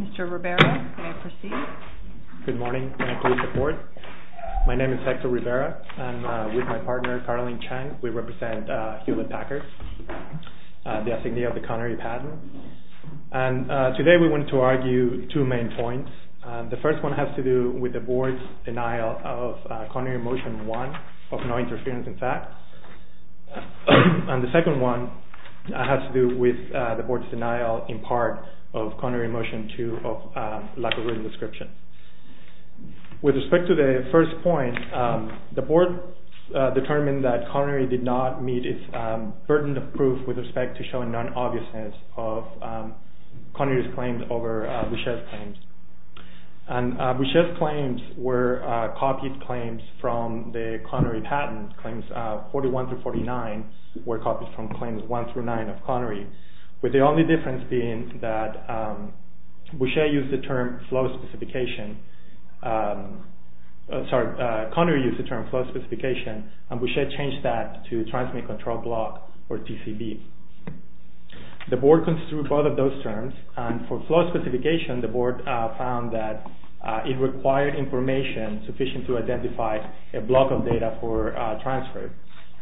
Mr. Rivera, may I proceed? Good morning. May I please report? My name is Hector Rivera. I'm with my partner, Caroline Chang. We represent Hewlett-Packard, the assignee of the Connery patent. Today we want to argue two main points. The first one has to do with the Board's denial of Connery Motion 1, of no interference in fact. And the second one has to do with the Board's denial in part of Connery Motion 2, of lack of written description. With respect to the first point, the Board determined that Connery did not meet its burden of proof with respect to showing non-obviousness of Connery's claims over Boucher's claims. And Boucher's claims were copied claims from the Connery patent. Claims 41 through 49 were copied from claims 1 through 9 of Connery. With the only difference being that Boucher used the term flow specification, sorry, Connery used the term flow specification, and Boucher changed that to transmit control block, or TCB. The Board construed both of those terms, and for flow specification the Board found that it required information sufficient to identify a block of data for transfer,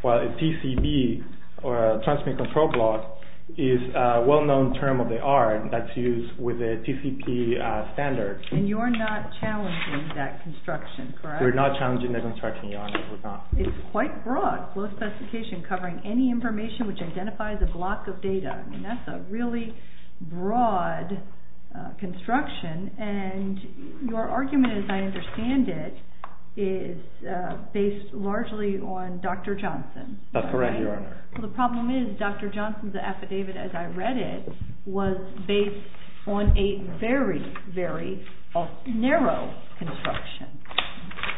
while a TCB, or a transmit control block, is a well-known term of the art that's used with a TCP standard. And you're not challenging that construction, correct? We're not challenging that construction, Your Honor, we're not. It's quite broad, flow specification covering any information which identifies a block of data. I mean, that's a really broad construction, and your argument, as I understand it, is based largely on Dr. Johnson. That's correct, Your Honor. Well, the problem is, Dr. Johnson's affidavit, as I read it, was based on a very, very narrow construction.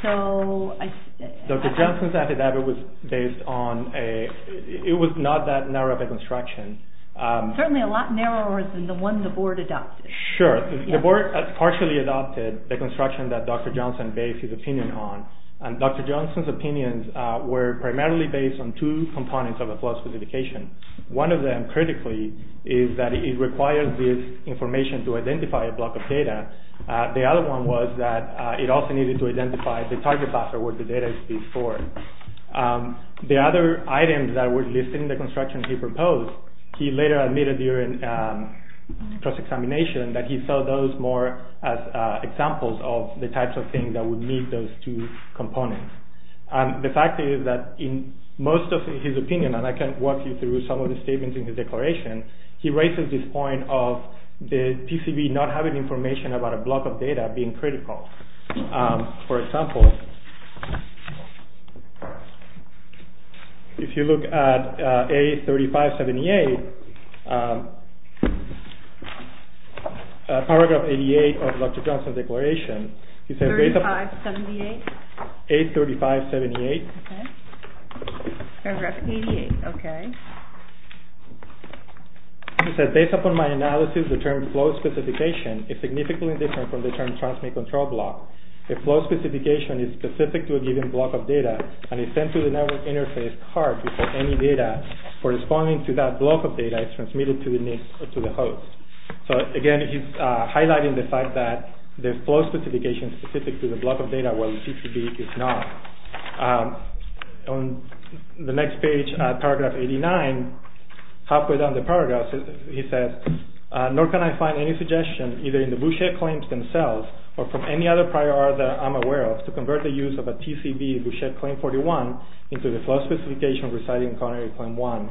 Dr. Johnson's affidavit was based on a, it was not that narrow of a construction. Certainly a lot narrower than the one the Board adopted. Sure, the Board partially adopted the construction that Dr. Johnson based his opinion on, and Dr. Johnson's opinions were primarily based on two components of a flow specification. One of them, critically, is that it requires this information to identify a block of data. The other one was that it also needed to identify the target cluster where the data is being stored. The other items that were listed in the construction he proposed, he later admitted during cross-examination that he saw those more as examples of the types of things that would meet those two components. The fact is that in most of his opinion, and I can walk you through some of the statements in his declaration, he raises this point of the PCB not having information about a block of data being critical. For example, if you look at A3578, Paragraph 88 of Dr. Johnson's declaration, A3578. Paragraph 88, okay. He said, based upon my analysis, the term flow specification is significantly different from the term transmit control block. A flow specification is specific to a given block of data and is sent to the network interface card before any data corresponding to that block of data is transmitted to the host. So again, he's highlighting the fact that the flow specification is specific to the block of data, while the PCB is not. On the next page, Paragraph 89, halfway down the paragraph, he says, nor can I find any suggestion, either in the Boucher claims themselves or from any other prior art that I'm aware of, to convert the use of a TCB Boucher Claim 41 into the flow specification residing in Connery Claim 1.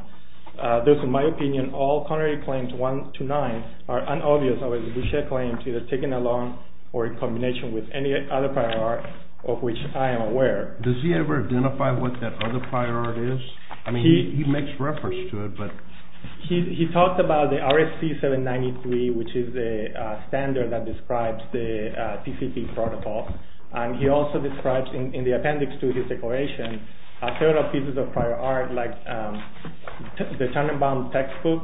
Those, in my opinion, all Connery Claims 1 to 9 are unobvious, other than the Boucher Claims either taken along or in combination with any other prior art of which I am aware. Does he ever identify what that other prior art is? I mean, he makes reference to it, but... He talks about the RFC 793, which is the standard that describes the TCP protocol. And he also describes, in the appendix to his declaration, several pieces of prior art, like the Tannenbaum textbook,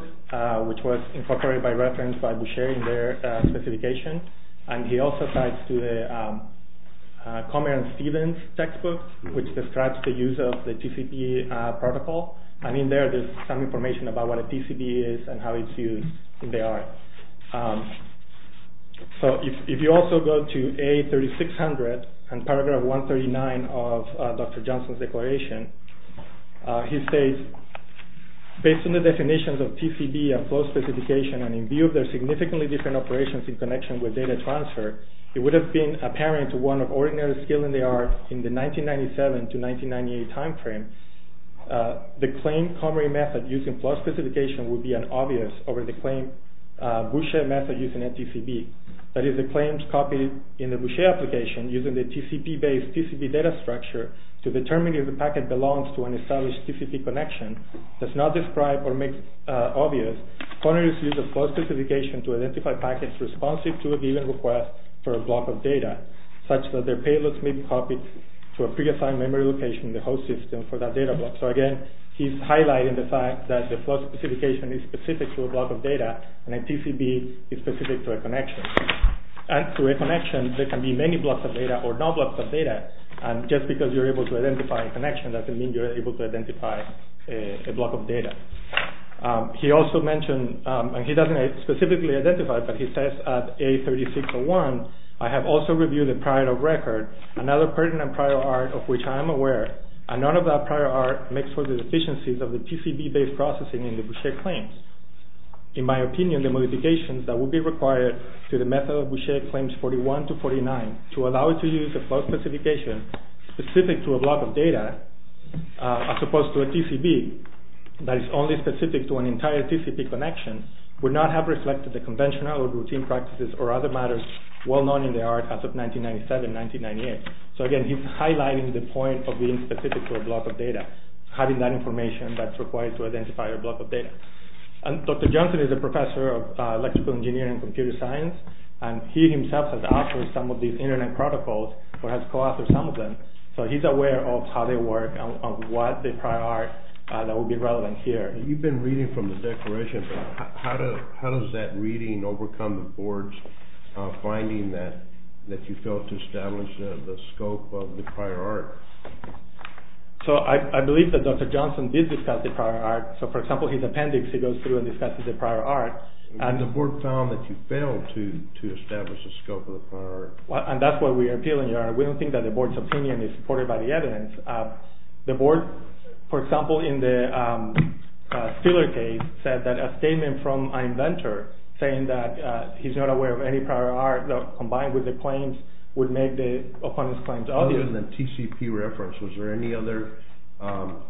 which was incorporated by reference by Boucher in their specification. And he also ties to the Comer and Stephens textbook, which describes the use of the TCP protocol. And in there, there's some information about what a TCB is and how it's used in their art. So if you also go to A3600 and paragraph 139 of Dr. Johnson's declaration, he states, based on the definitions of TCB and flow specification and in view of their significantly different operations in connection with data transfer, it would have been apparent to one of ordinary skilled in the art in the 1997 to 1998 timeframe the claimed Comery method using flow specification would be an obvious over the claimed Boucher method using a TCB. That is, the claims copied in the Boucher application using the TCP-based TCP data structure to determine if the packet belongs to an established TCP connection does not describe or make obvious comers use a flow specification to identify packets responsive to a given request for a block of data, such that their payloads may be copied to a pre-assigned memory location in the host system for that data block. So again, he's highlighting the fact that the flow specification is specific to a block of data and a TCB is specific to a connection. And through a connection, there can be many blocks of data or no blocks of data, and just because you're able to identify a connection doesn't mean you're able to identify a block of data. He also mentioned, and he doesn't specifically identify it, but he says, I have also reviewed a prior record, another pertinent prior art of which I am aware, and none of that prior art makes for the deficiencies of the TCB-based processing in the Boucher claims. In my opinion, the modifications that would be required to the method of Boucher claims 41 to 49 to allow it to use a flow specification specific to a block of data, as opposed to a TCB that is only specific to an entire TCP connection, would not have reflected the conventional or routine practices or other matters well known in the art as of 1997, 1998. So again, he's highlighting the point of being specific to a block of data, having that information that's required to identify a block of data. And Dr. Johnson is a professor of electrical engineering and computer science, and he himself has authored some of these internet protocols or has co-authored some of them, so he's aware of how they work and what the prior art that would be relevant here. You've been reading from the declaration. How does that reading overcome the board's finding that you failed to establish the scope of the prior art? So I believe that Dr. Johnson did discuss the prior art. So for example, his appendix, he goes through and discusses the prior art. And the board found that you failed to establish the scope of the prior art. And that's why we are appealing. We don't think that the board's opinion is supported by the evidence. The board, for example, in the Steeler case, said that a statement from an inventor saying that he's not aware of any prior art combined with the claims would make the opponent's claims obvious. Other than the TCP reference, was there any other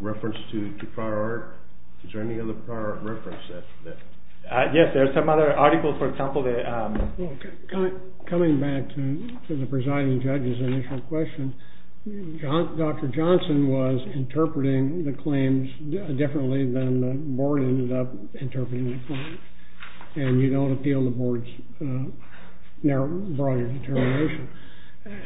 reference to prior art? Is there any other prior art reference? Yes, there's some other articles, for example. Coming back to the presiding judge's initial question, Dr. Johnson was interpreting the claims differently than the board ended up interpreting the claims. And you don't appeal the board's broader determination.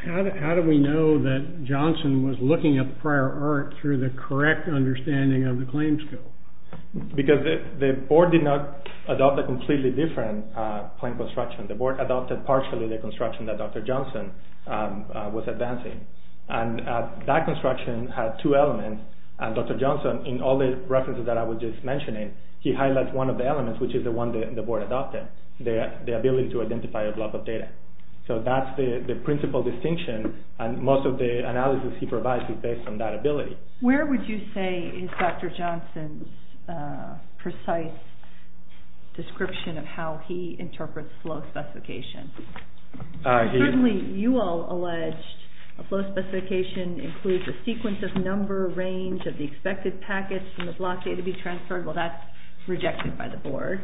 How do we know that Johnson was looking at the prior art through the correct understanding of the claims scope? Because the board did not adopt a completely different claim construction. The board adopted partially the construction that Dr. Johnson was advancing. And that construction had two elements. And Dr. Johnson, in all the references that I was just mentioning, he highlighted one of the elements, which is the one that the board adopted, the ability to identify a block of data. So that's the principal distinction, and most of the analysis he provides is based on that ability. Where would you say is Dr. Johnson's precise description of how he interprets flow specifications? Certainly, you all alleged a flow specification includes a sequence of number, range of the expected packets from the block data to be transferred. Well, that's rejected by the board.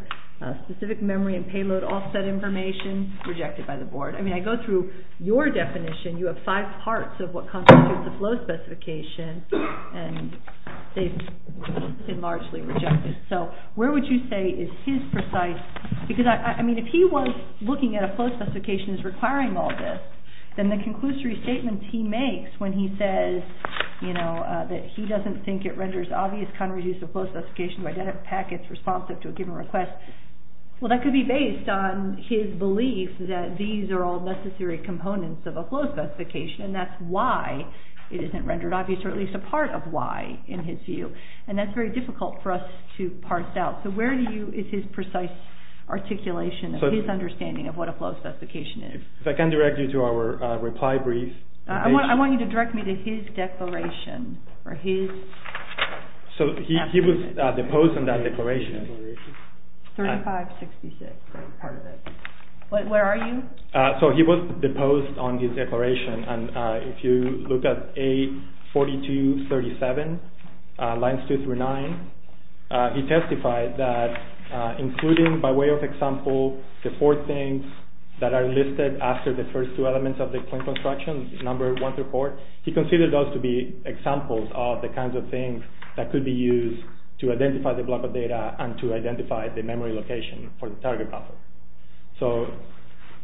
Specific memory and payload offset information, rejected by the board. I mean, I go through your definition. You have five parts of what constitutes a flow specification, and they've largely rejected. So where would you say is his precise – because, I mean, if he was looking at a flow specification as requiring all this, then the conclusory statement he makes when he says, you know, that he doesn't think it renders obvious counter-reduce of flow specifications by data packets responsive to a given request, well, that could be based on his belief that these are all necessary components of a flow specification, and that's why it isn't rendered obvious, or at least a part of why, in his view. And that's very difficult for us to parse out. So where do you – is his precise articulation of his understanding of what a flow specification is? If I can direct you to our reply brief. I want you to direct me to his declaration, or his – So he was deposed on that declaration. 3566, part of it. Where are you? So he was deposed on his declaration, and if you look at A4237, lines 2 through 9, he testified that, including by way of example, the four things that are listed after the first two elements of the point construction, number 1 through 4, he considered those to be examples of the kinds of things that could be used to identify the block of data and to identify the memory location for the target buffer. So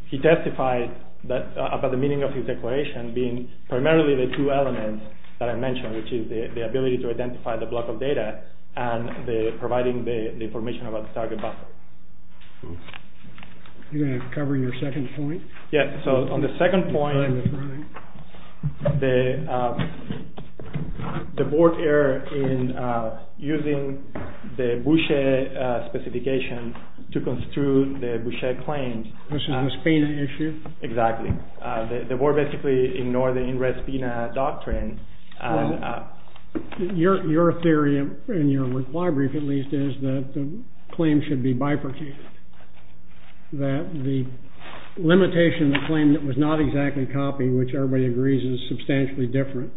he testified about the meaning of his declaration being primarily the two elements that I mentioned, which is the ability to identify the block of data and providing the information about the target buffer. Are you going to cover your second point? Yes, so on the second point, the board error in using the Boucher specification to construe the Boucher claims. This is an ESPINA issue? Exactly. The board basically ignored the in-res PINA doctrine. Your theory, in your reply brief at least, is that the claim should be bifurcated, that the limitation of the claim that was not exactly copied, which everybody agrees is substantially different,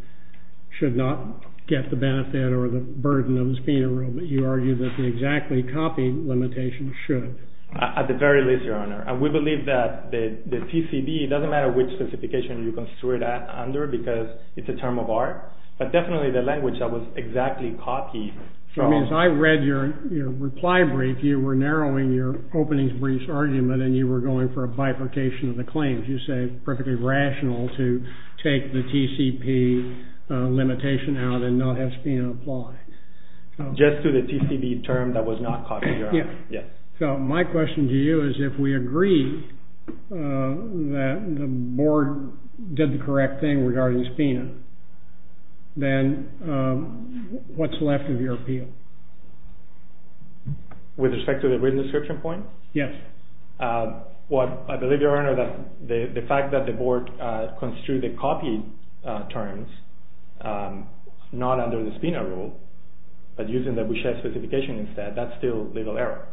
should not get the benefit or the burden of the ESPINA rule, but you argue that the exactly copied limitation should. At the very least, Your Honor. And we believe that the PCB, it doesn't matter which specification you construe it under because it's a term of art, but definitely the language that was exactly copied. I mean, as I read your reply brief, you were narrowing your opening brief's argument and you were going for a bifurcation of the claims. You say it's perfectly rational to take the TCP limitation out and not have ESPINA apply. Just to the TCB term that was not copied, Your Honor. So my question to you is if we agree that the board did the correct thing regarding ESPINA, then what's left of your appeal? With respect to the written description point? Yes. Well, I believe, Your Honor, that the fact that the board construed the copied terms, not under the ESPINA rule, but using the Boucher specification instead, that's still legal error.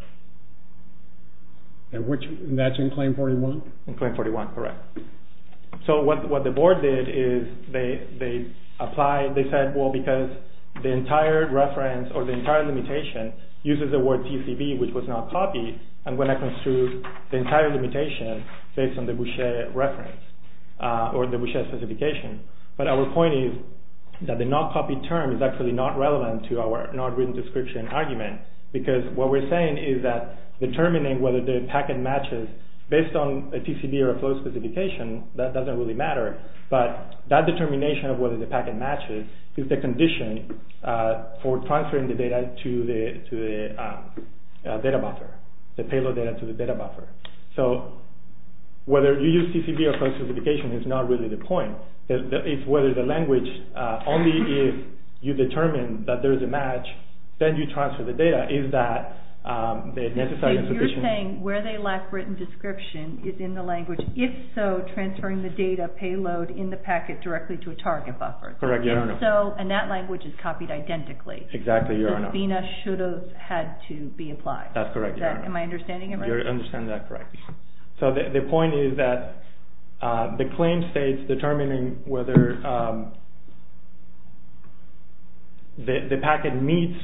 And that's in Claim 41? In Claim 41, correct. So what the board did is they applied, they said, well, because the entire reference or the entire limitation uses the word TCB, which was not copied, I'm going to construe the entire limitation based on the Boucher reference or the Boucher specification. But our point is that the not copied term is actually not relevant to our not written description argument because what we're saying is that determining whether the packet matches based on a TCB or a flow specification, that doesn't really matter. But that determination of whether the packet matches is the condition for transferring the data to the data buffer, the payload data to the data buffer. So whether you use TCB or flow specification is not really the point. It's whether the language, only if you determine that there is a match, then you transfer the data. So you're saying where they lack written description is in the language. If so, transferring the data payload in the packet directly to a target buffer. Correct, Your Honor. And that language is copied identically. Exactly, Your Honor. The FINA should have had to be applied. That's correct, Your Honor. Am I understanding it right? You're understanding that correctly. So the point is that the claim states determining whether the packet meets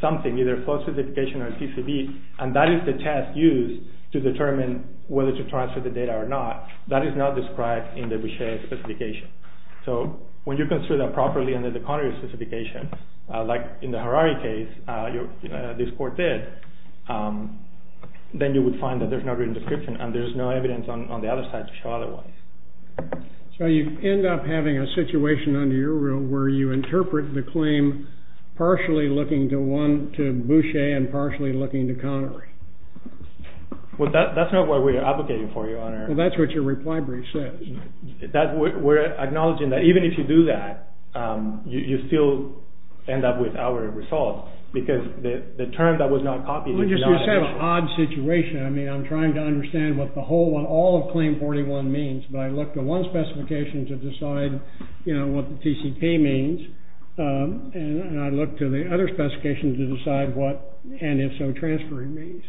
something, either a flow specification or a TCB, and that is the test used to determine whether to transfer the data or not. That is not described in the Bechet specification. So when you consider that properly under the Connery specification, like in the Harari case, this court did, then you would find that there's no written description and there's no evidence on the other side to show otherwise. So you end up having a situation under your rule where you interpret the claim partially looking to Bechet and partially looking to Connery. Well, that's not what we're advocating for, Your Honor. Well, that's what your reply brief says. We're acknowledging that even if you do that, you still end up with our result because the term that was not copied is not official. Well, you just said an odd situation. I mean, I'm trying to understand what all of Claim 41 means, but I look to one specification to decide what the TCP means, and I look to the other specifications to decide what, and if so, transferring means.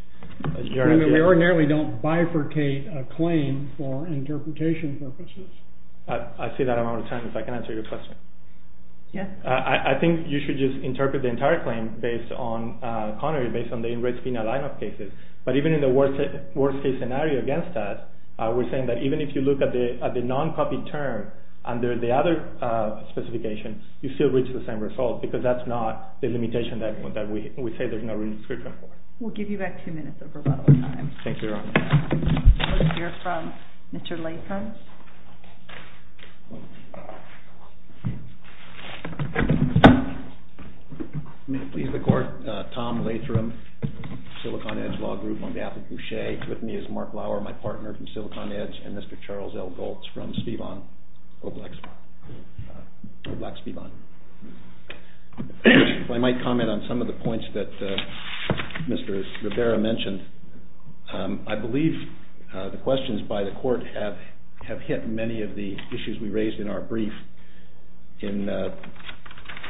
We ordinarily don't bifurcate a claim for interpretation purposes. I see that amount of time, so I can answer your question. Yes. I think you should just interpret the entire claim based on Connery, based on the in-risk penal lineup cases. But even in the worst-case scenario against that, we're saying that even if you look at the non-copied term under the other specifications, you still reach the same result because that's not the limitation that we say there's no written description for. We'll give you back two minutes of rebuttal time. Thank you, Your Honor. We'll hear from Mr. Latham. May it please the Court. Tom Latham, Silicon Edge Law Group, on behalf of Boucher. With me is Mark Lauer, my partner from Silicon Edge, and Mr. Charles L. Goltz from Spivon, Oblac, Spivon. I might comment on some of the points that Mr. Rivera mentioned. I believe the questions by the Court have hit many of the issues we raised in our brief. In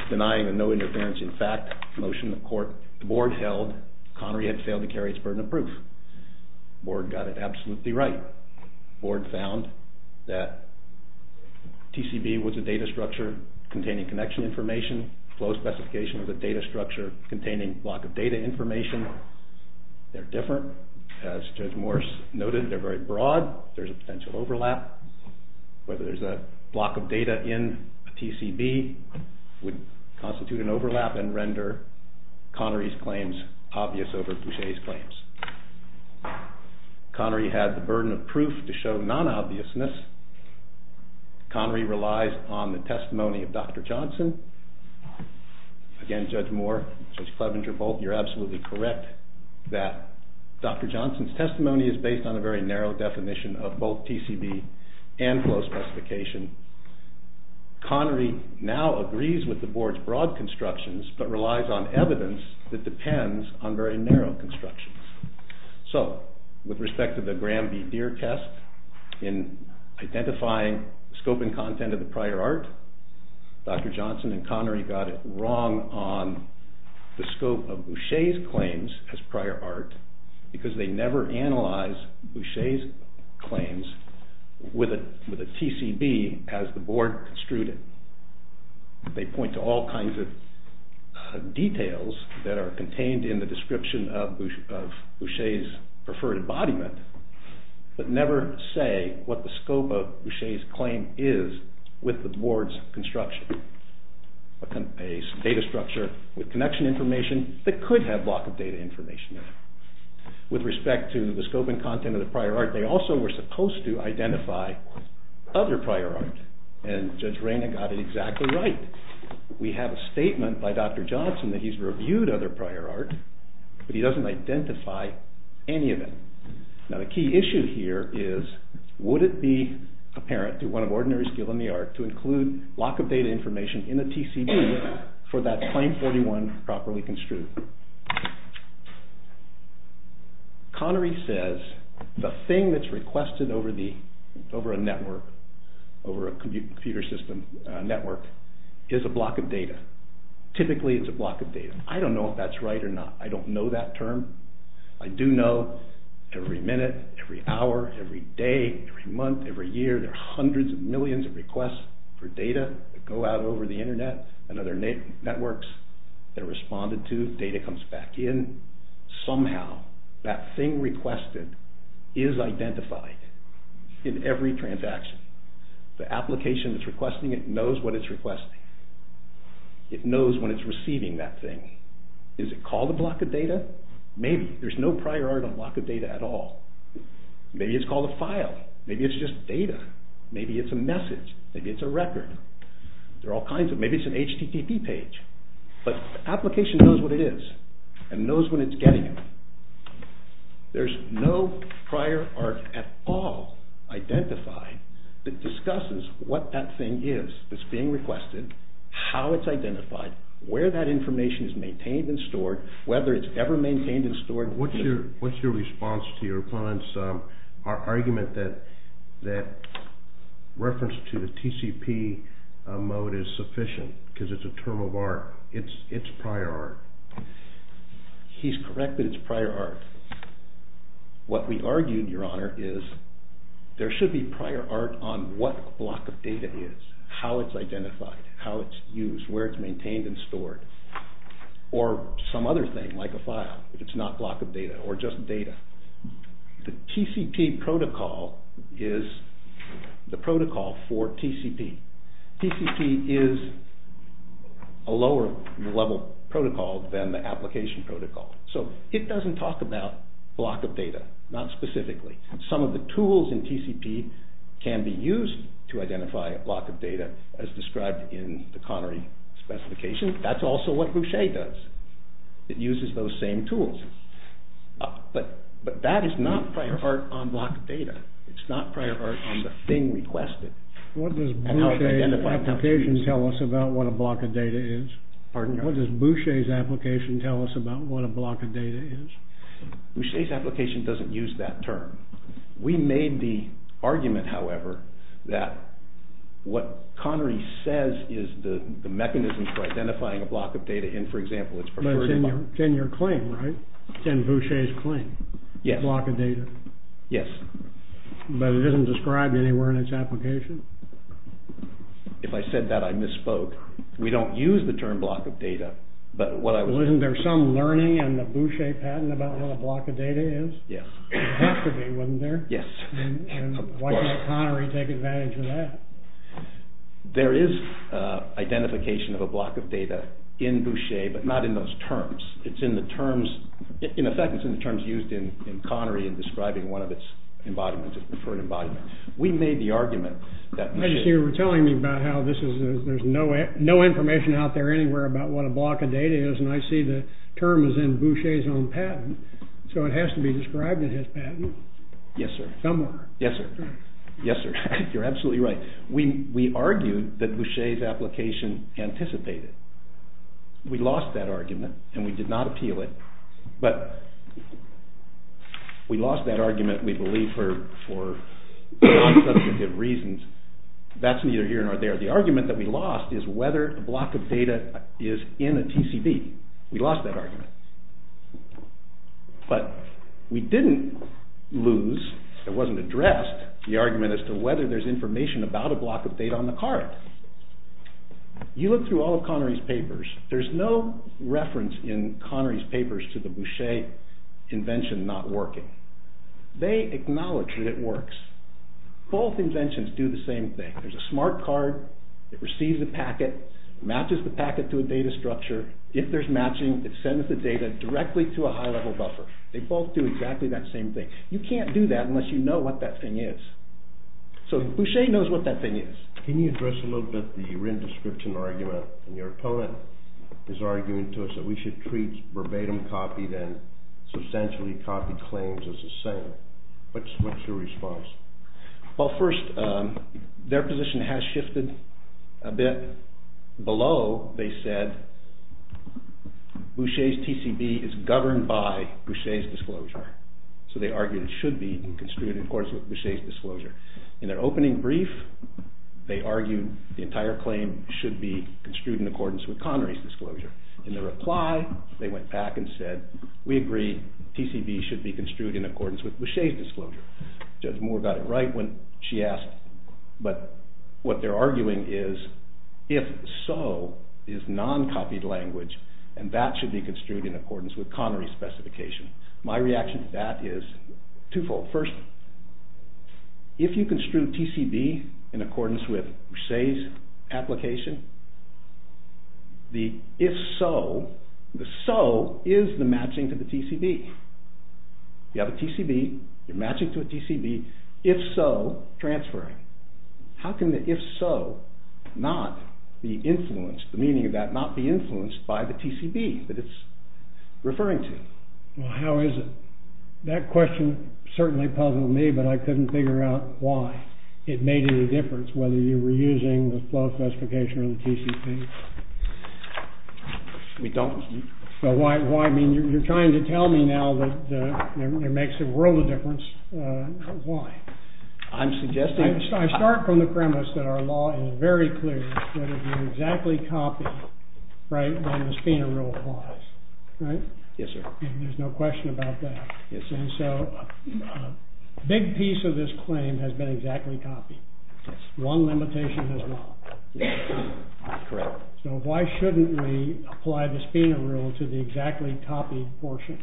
denying a no-interference-in-fact motion that the Board held, Connery had failed to carry its burden of proof. The Board got it absolutely right. The Board found that TCB was a data structure containing connection information. Flow specification was a data structure containing block of data information. They're different. As Judge Morris noted, they're very broad. There's a potential overlap. Whether there's a block of data in a TCB would constitute an overlap and render Connery's claims obvious over Boucher's claims. Connery had the burden of proof to show non-obviousness. Connery relies on the testimony of Dr. Johnson. Again, Judge Moore, Judge Clevenger, Bolton, you're absolutely correct that Dr. Johnson's testimony is based on a very narrow definition of both TCB and flow specification. Connery now agrees with the Board's broad constructions but relies on evidence that depends on very narrow constructions. So, with respect to the Graham v. Deere test, in identifying scope and content of the prior art, Dr. Johnson and Connery got it wrong on the scope of Boucher's claims as prior art because they never analyze Boucher's claims with a TCB as the Board construed it. They point to all kinds of details that are contained in the description of Boucher's preferred embodiment but never say what the scope of Boucher's claim is with the Board's construction. A data structure with connection information that could have block of data information. With respect to the scope and content of the prior art, they also were supposed to identify other prior art and Judge Rayna got it exactly right. We have a statement by Dr. Johnson that he's reviewed other prior art but he doesn't identify any of it. Now the key issue here is would it be apparent through one of ordinary skill in the art to include block of data information in the TCB for that claim 41 properly construed? Connery says the thing that's requested over a network, over a computer system network, is a block of data. Typically it's a block of data. I don't know if that's right or not. I don't know that term. I do know every minute, every hour, every day, every month, every year, there are hundreds of millions of requests for data that go out over the Internet and other networks that are responded to. Data comes back in. Somehow that thing requested is identified in every transaction. The application that's requesting it knows what it's requesting. It knows when it's receiving that thing. Is it called a block of data? Maybe. There's no prior art on block of data at all. Maybe it's called a file. Maybe it's just data. Maybe it's a message. Maybe it's a record. There are all kinds. Maybe it's an HTTP page. But the application knows what it is and knows when it's getting it. There's no prior art at all identified that discusses what that thing is that's being requested, how it's identified, where that information is maintained and stored, whether it's ever maintained and stored. What's your response to your client's argument that reference to the TCP mode is sufficient because it's a term of art? It's prior art. He's correct that it's prior art. What we argued, Your Honor, is there should be prior art on what block of data it is, how it's identified, how it's used, where it's maintained and stored, or some other thing like a file if it's not block of data or just data. The TCP protocol is the protocol for TCP. TCP is a lower level protocol than the application protocol. So it doesn't talk about block of data, not specifically. Some of the tools in TCP can be used to identify a block of data as described in the Connery specification. That's also what Boucher does. It uses those same tools. But that is not prior art on block of data. It's not prior art on the thing requested. What does Boucher's application tell us about what a block of data is? What does Boucher's application tell us about what a block of data is? Boucher's application doesn't use that term. We made the argument, however, that what Connery says is the mechanism for identifying a block of data in, for example, its preferred environment. But it's in your claim, right? It's in Boucher's claim, block of data. Yes. But it isn't described anywhere in its application? If I said that, I misspoke. We don't use the term block of data, but what I would say is… Well, isn't there some learning in the Boucher patent about what a block of data is? Yes. There would have to be, wouldn't there? Yes. And why can't Connery take advantage of that? There is identification of a block of data in Boucher, but not in those terms. It's in the terms, in effect, it's in the terms used in Connery in describing one of its embodiments, its preferred embodiment. We made the argument that Boucher… There's no information out there anywhere about what a block of data is, and I see the term is in Boucher's own patent, so it has to be described in his patent. Yes, sir. Somewhere. Yes, sir. Yes, sir. You're absolutely right. We argued that Boucher's application anticipated. We lost that argument, and we did not appeal it, but we lost that argument, we believe, for non-subjective reasons. That's neither here nor there. The argument that we lost is whether a block of data is in a TCB. We lost that argument. But we didn't lose, it wasn't addressed, the argument as to whether there's information about a block of data on the card. You look through all of Connery's papers. There's no reference in Connery's papers to the Boucher invention not working. They acknowledge that it works. Both inventions do the same thing. There's a smart card that receives a packet, matches the packet to a data structure. If there's matching, it sends the data directly to a high-level buffer. They both do exactly that same thing. You can't do that unless you know what that thing is. So Boucher knows what that thing is. Can you address a little bit the Wren description argument? Your opponent is arguing to us that we should treat verbatim copied and substantially copied claims as the same. What's your response? Well, first, their position has shifted a bit. Below, they said Boucher's TCB is governed by Boucher's disclosure. So they argued it should be construed in accordance with Boucher's disclosure. In their opening brief, they argued the entire claim should be construed in accordance with Connery's disclosure. In their reply, they went back and said, Judge Moore got it right when she asked. But what they're arguing is, if so, is non-copied language, and that should be construed in accordance with Connery's specification. My reaction to that is twofold. First, if you construe TCB in accordance with Boucher's application, the if-so, the so is the matching to the TCB. You have a TCB, you're matching to a TCB, if so, transferring. How can the if-so not be influenced, the meaning of that, not be influenced by the TCB that it's referring to? Well, how is it? That question certainly puzzled me, but I couldn't figure out why. It made any difference whether you were using the flow specification or the TCB. We don't. So why? I mean, you're trying to tell me now that it makes a world of difference. Why? I'm suggesting— I start from the premise that our law is very clear that if you exactly copy, right, then the SPINA rule applies, right? Yes, sir. There's no question about that. Yes, sir. And so a big piece of this claim has been exactly copied. Yes. One limitation has not. Correct. So why shouldn't we apply the SPINA rule to the exactly copied portion,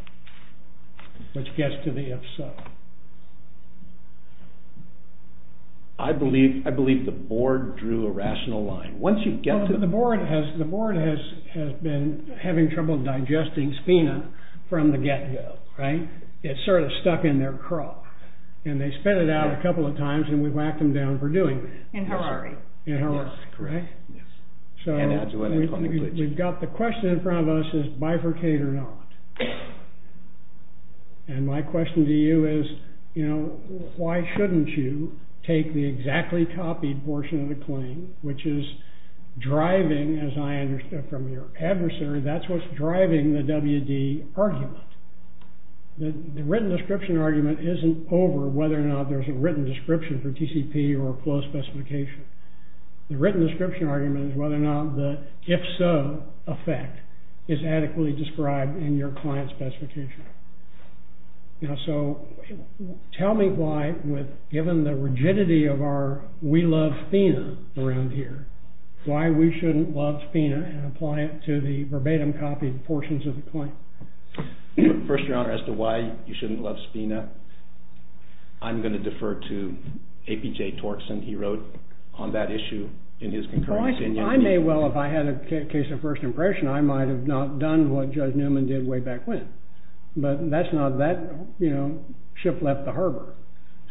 which gets to the if-so? I believe the board drew a rational line. Once you get to the— The board has been having trouble digesting SPINA from the get-go, right? It's sort of stuck in their craw. And they spit it out a couple of times, and we whacked them down for doing that. In Hilary. In Hilary, correct? Yes. So we've got the question in front of us is bifurcate or not. And my question to you is, you know, why shouldn't you take the exactly copied portion of the claim, which is driving, as I understood from your adversary, that's what's driving the WD argument. The written description argument isn't over whether or not there's a written description for TCP or closed specification. The written description argument is whether or not the if-so effect is adequately described in your client specification. Now, so tell me why, given the rigidity of our we love SPINA around here, why we shouldn't love SPINA and apply it to the verbatim copied portions of the claim. First, Your Honor, as to why you shouldn't love SPINA, I'm going to defer to A.P.J. Torkson. He wrote on that issue in his concurrent opinion. I may well, if I had a case of first impression, I might have not done what Judge Newman did way back when. But that's not that, you know, ship left the harbor.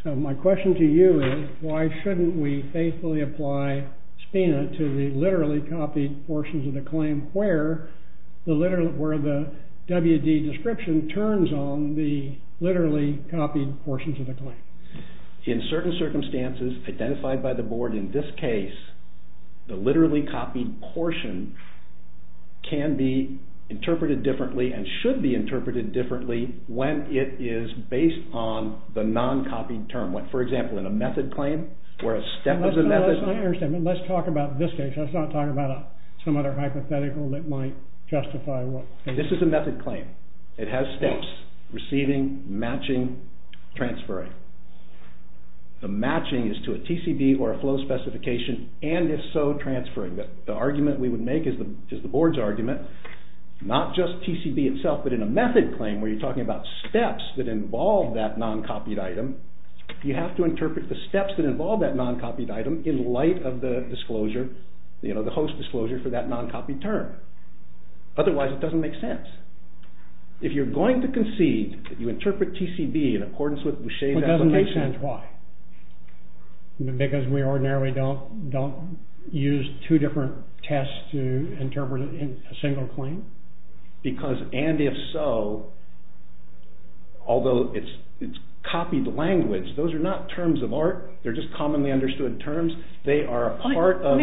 So my question to you is why shouldn't we faithfully apply SPINA to the literally copied portions of the claim where the WD description turns on the literally copied portions of the claim. In certain circumstances, identified by the board in this case, the literally copied portion can be interpreted differently and should be interpreted differently when it is based on the non-copied term. For example, in a method claim where a step of the method... Let's talk about this case. Let's not talk about some other hypothetical that might justify what... This is a method claim. It has steps, receiving, matching, transferring. The matching is to a TCB or a flow specification, and if so, transferring. The argument we would make is the board's argument, not just TCB itself, but in a method claim where you're talking about steps that involve that non-copied item, you have to interpret the steps that involve that non-copied item in light of the disclosure, you know, the host disclosure for that non-copied term. Otherwise, it doesn't make sense. If you're going to concede that you interpret TCB in accordance with Boucher's application... It doesn't make sense. Why? Because we ordinarily don't use two different tests to interpret a single claim? Because, and if so, although it's copied language, those are not terms of art. They're just commonly understood terms. They are a part of the... I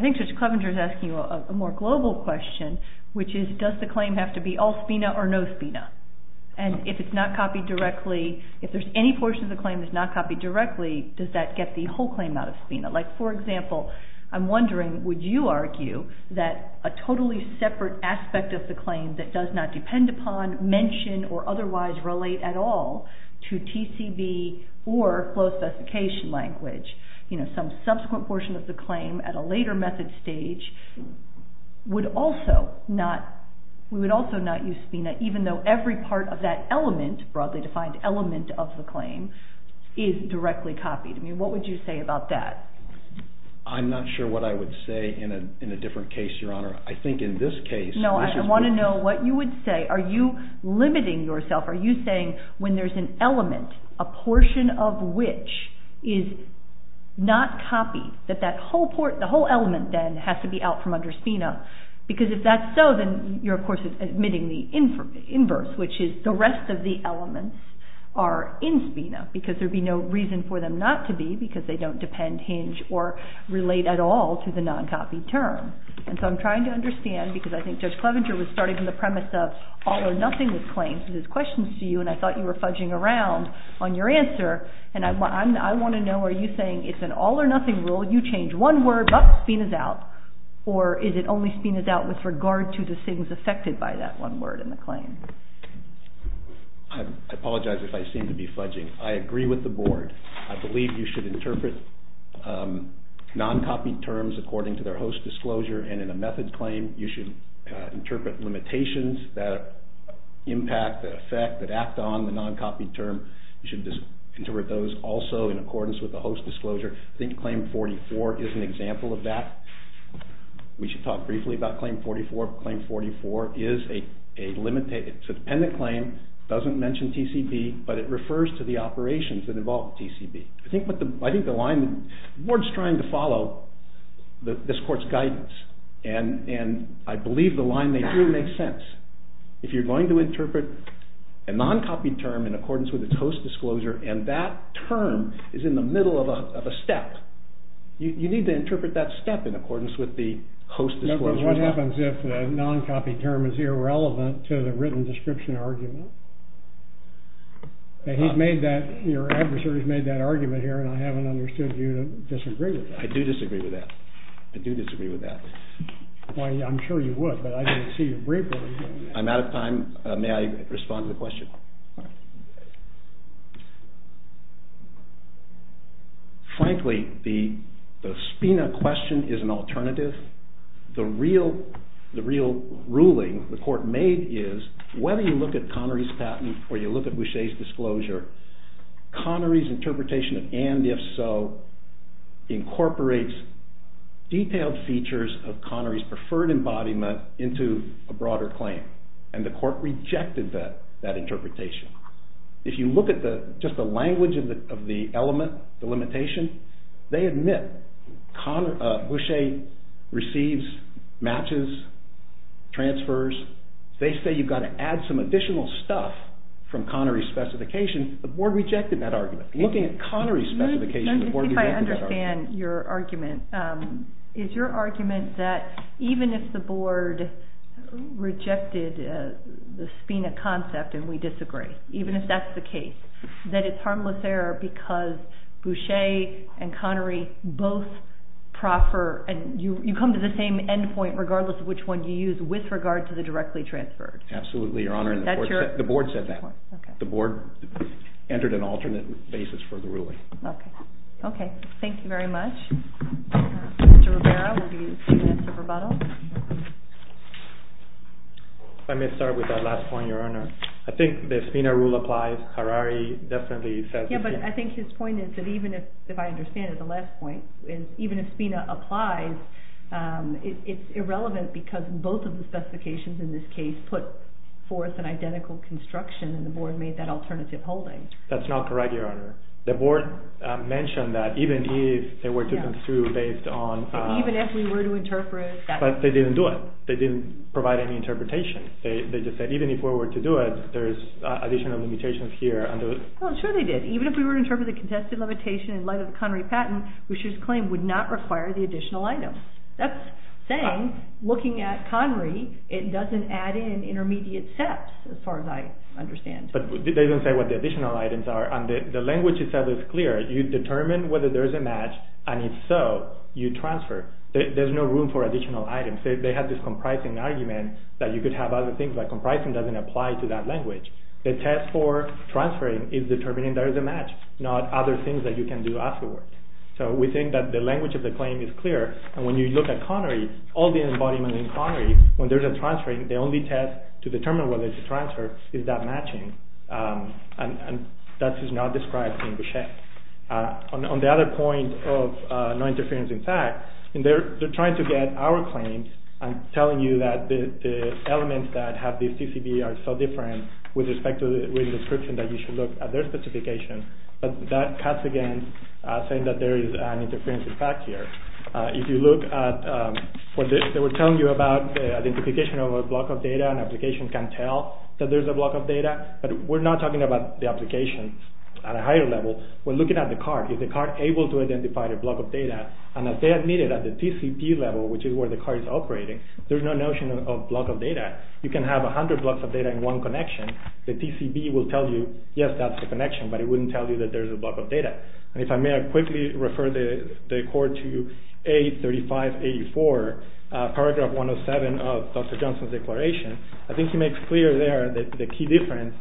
think Judge Clevenger's asking a more global question, which is, does the claim have to be all SPINA or no SPINA? And if it's not copied directly, if there's any portion of the claim that's not copied directly, does that get the whole claim out of SPINA? Like, for example, I'm wondering, would you argue that a totally separate aspect of the claim that does not depend upon, mention, or otherwise relate at all to TCB or flow specification language, you know, some subsequent portion of the claim at a later method stage, would also not... we would also not use SPINA, even though every part of that element, broadly defined element of the claim, is directly copied? I mean, what would you say about that? I'm not sure what I would say in a different case, Your Honour. I think in this case... No, I want to know what you would say. Are you limiting yourself? Are you saying when there's an element, a portion of which is not copied, that that whole element then has to be out from under SPINA? Because if that's so, then you're of course admitting the inverse, which is the rest of the elements are in SPINA, because there'd be no reason for them not to be, because they don't depend, hinge, or relate at all to the non-copied term. And so I'm trying to understand, because I think Judge Clevenger was starting from the premise of all or nothing with claims, and I thought you were fudging around on your answer, and I want to know, are you saying it's an all or nothing rule, you change one word, but SPINA's out, or is it only SPINA's out with regard to the things affected by that one word in the claim? I apologize if I seem to be fudging. I agree with the Board. I believe you should interpret non-copied terms according to their host disclosure, and in a method claim you should interpret limitations that impact, that affect, that act on the non-copied term, you should interpret those also in accordance with the host disclosure. I think Claim 44 is an example of that. We should talk briefly about Claim 44. Claim 44 is a limited, it's a dependent claim, doesn't mention TCB, but it refers to the operations that involve TCB. I think the line the Board's trying to follow, this Court's guidance, and I believe the line they drew makes sense. If you're going to interpret a non-copied term in accordance with its host disclosure, and that term is in the middle of a step, you need to interpret that step in accordance with the host disclosure. What happens if a non-copied term is irrelevant to the written description argument? Your adversary's made that argument here, and I haven't understood you to disagree with that. I do disagree with that. I do disagree with that. I'm sure you would, but I didn't see you briefly. I'm out of time. May I respond to the question? Frankly, the Spina question is an alternative. The real ruling the Court made is whether you look at Connery's patent or you look at Boucher's disclosure, Connery's interpretation of and-if-so incorporates detailed features of Connery's preferred embodiment into a broader claim, and the Court rejected that interpretation. If you look at just the language of the element, the limitation, they admit Boucher receives matches, transfers. They say you've got to add some additional stuff from Connery's specification. The Board rejected that argument. Looking at Connery's specification, the Board rejected that argument. Let me see if I understand your argument. Is your argument that even if the Board rejected the Spina concept and we disagree, even if that's the case, that it's harmless error because Boucher and Connery both proffer and you come to the same end point regardless of which one you use with regard to the directly transferred? Absolutely, Your Honor. The Board said that. The Board entered an alternate basis for the ruling. Okay, thank you very much. Mr. Rivera, will you answer rebuttal? Let me start with that last point, Your Honor. I think the Spina rule applies. Harari definitely says... Yeah, but I think his point is that even if I understand it, the last point, even if Spina applies, it's irrelevant because both of the specifications in this case put forth an identical construction and the Board made that alternative holding. That's not correct, Your Honor. The Board mentioned that even if they were to come through based on... Even if we were to interpret... But they didn't do it. They didn't provide any interpretation. They just said, even if we were to do it, there's additional limitations here. Well, sure they did. Even if we were to interpret the contested limitation in light of the Connery patent, Boucher's claim would not require the additional items. That's saying, looking at Connery, it doesn't add in intermediate steps as far as I understand. But they don't say what the additional items are, and the language itself is clear. You determine whether there's a match, and if so, you transfer. There's no room for additional items. They have this comprising argument that you could have other things, but comprising doesn't apply to that language. The test for transferring is determining there is a match, not other things that you can do afterward. So we think that the language of the claim is clear, and when you look at Connery, all the embodiments in Connery, when there's a transferring, the only test to determine whether it's a transfer is that matching, and that is not described in Boucher. On the other point of no interference in fact, they're trying to get our claims and telling you that the elements that have the CCB are so different with respect to the written description that you should look at their specification, but that cuts against saying that there is an interference in fact here. If you look at what they were telling you about identification of a block of data, an application can tell that there's a block of data, but we're not talking about the application at a higher level. We're looking at the card. Is the card able to identify the block of data? And if they admit it at the TCB level, which is where the card is operating, there's no notion of block of data. You can have 100 blocks of data in one connection. The TCB will tell you, yes, that's the connection, but it wouldn't tell you that there's a block of data. And if I may quickly refer the court to A3584, paragraph 107 of Dr. Johnson's declaration, I think he makes clear there that the key difference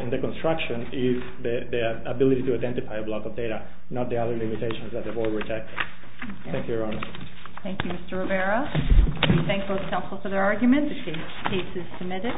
in the construction is the ability to identify a block of data, not the other limitations that the board rejected. Thank you, Your Honor. Thank you, Mr. Rivera. We thank both counsel for their arguments. The case is submitted.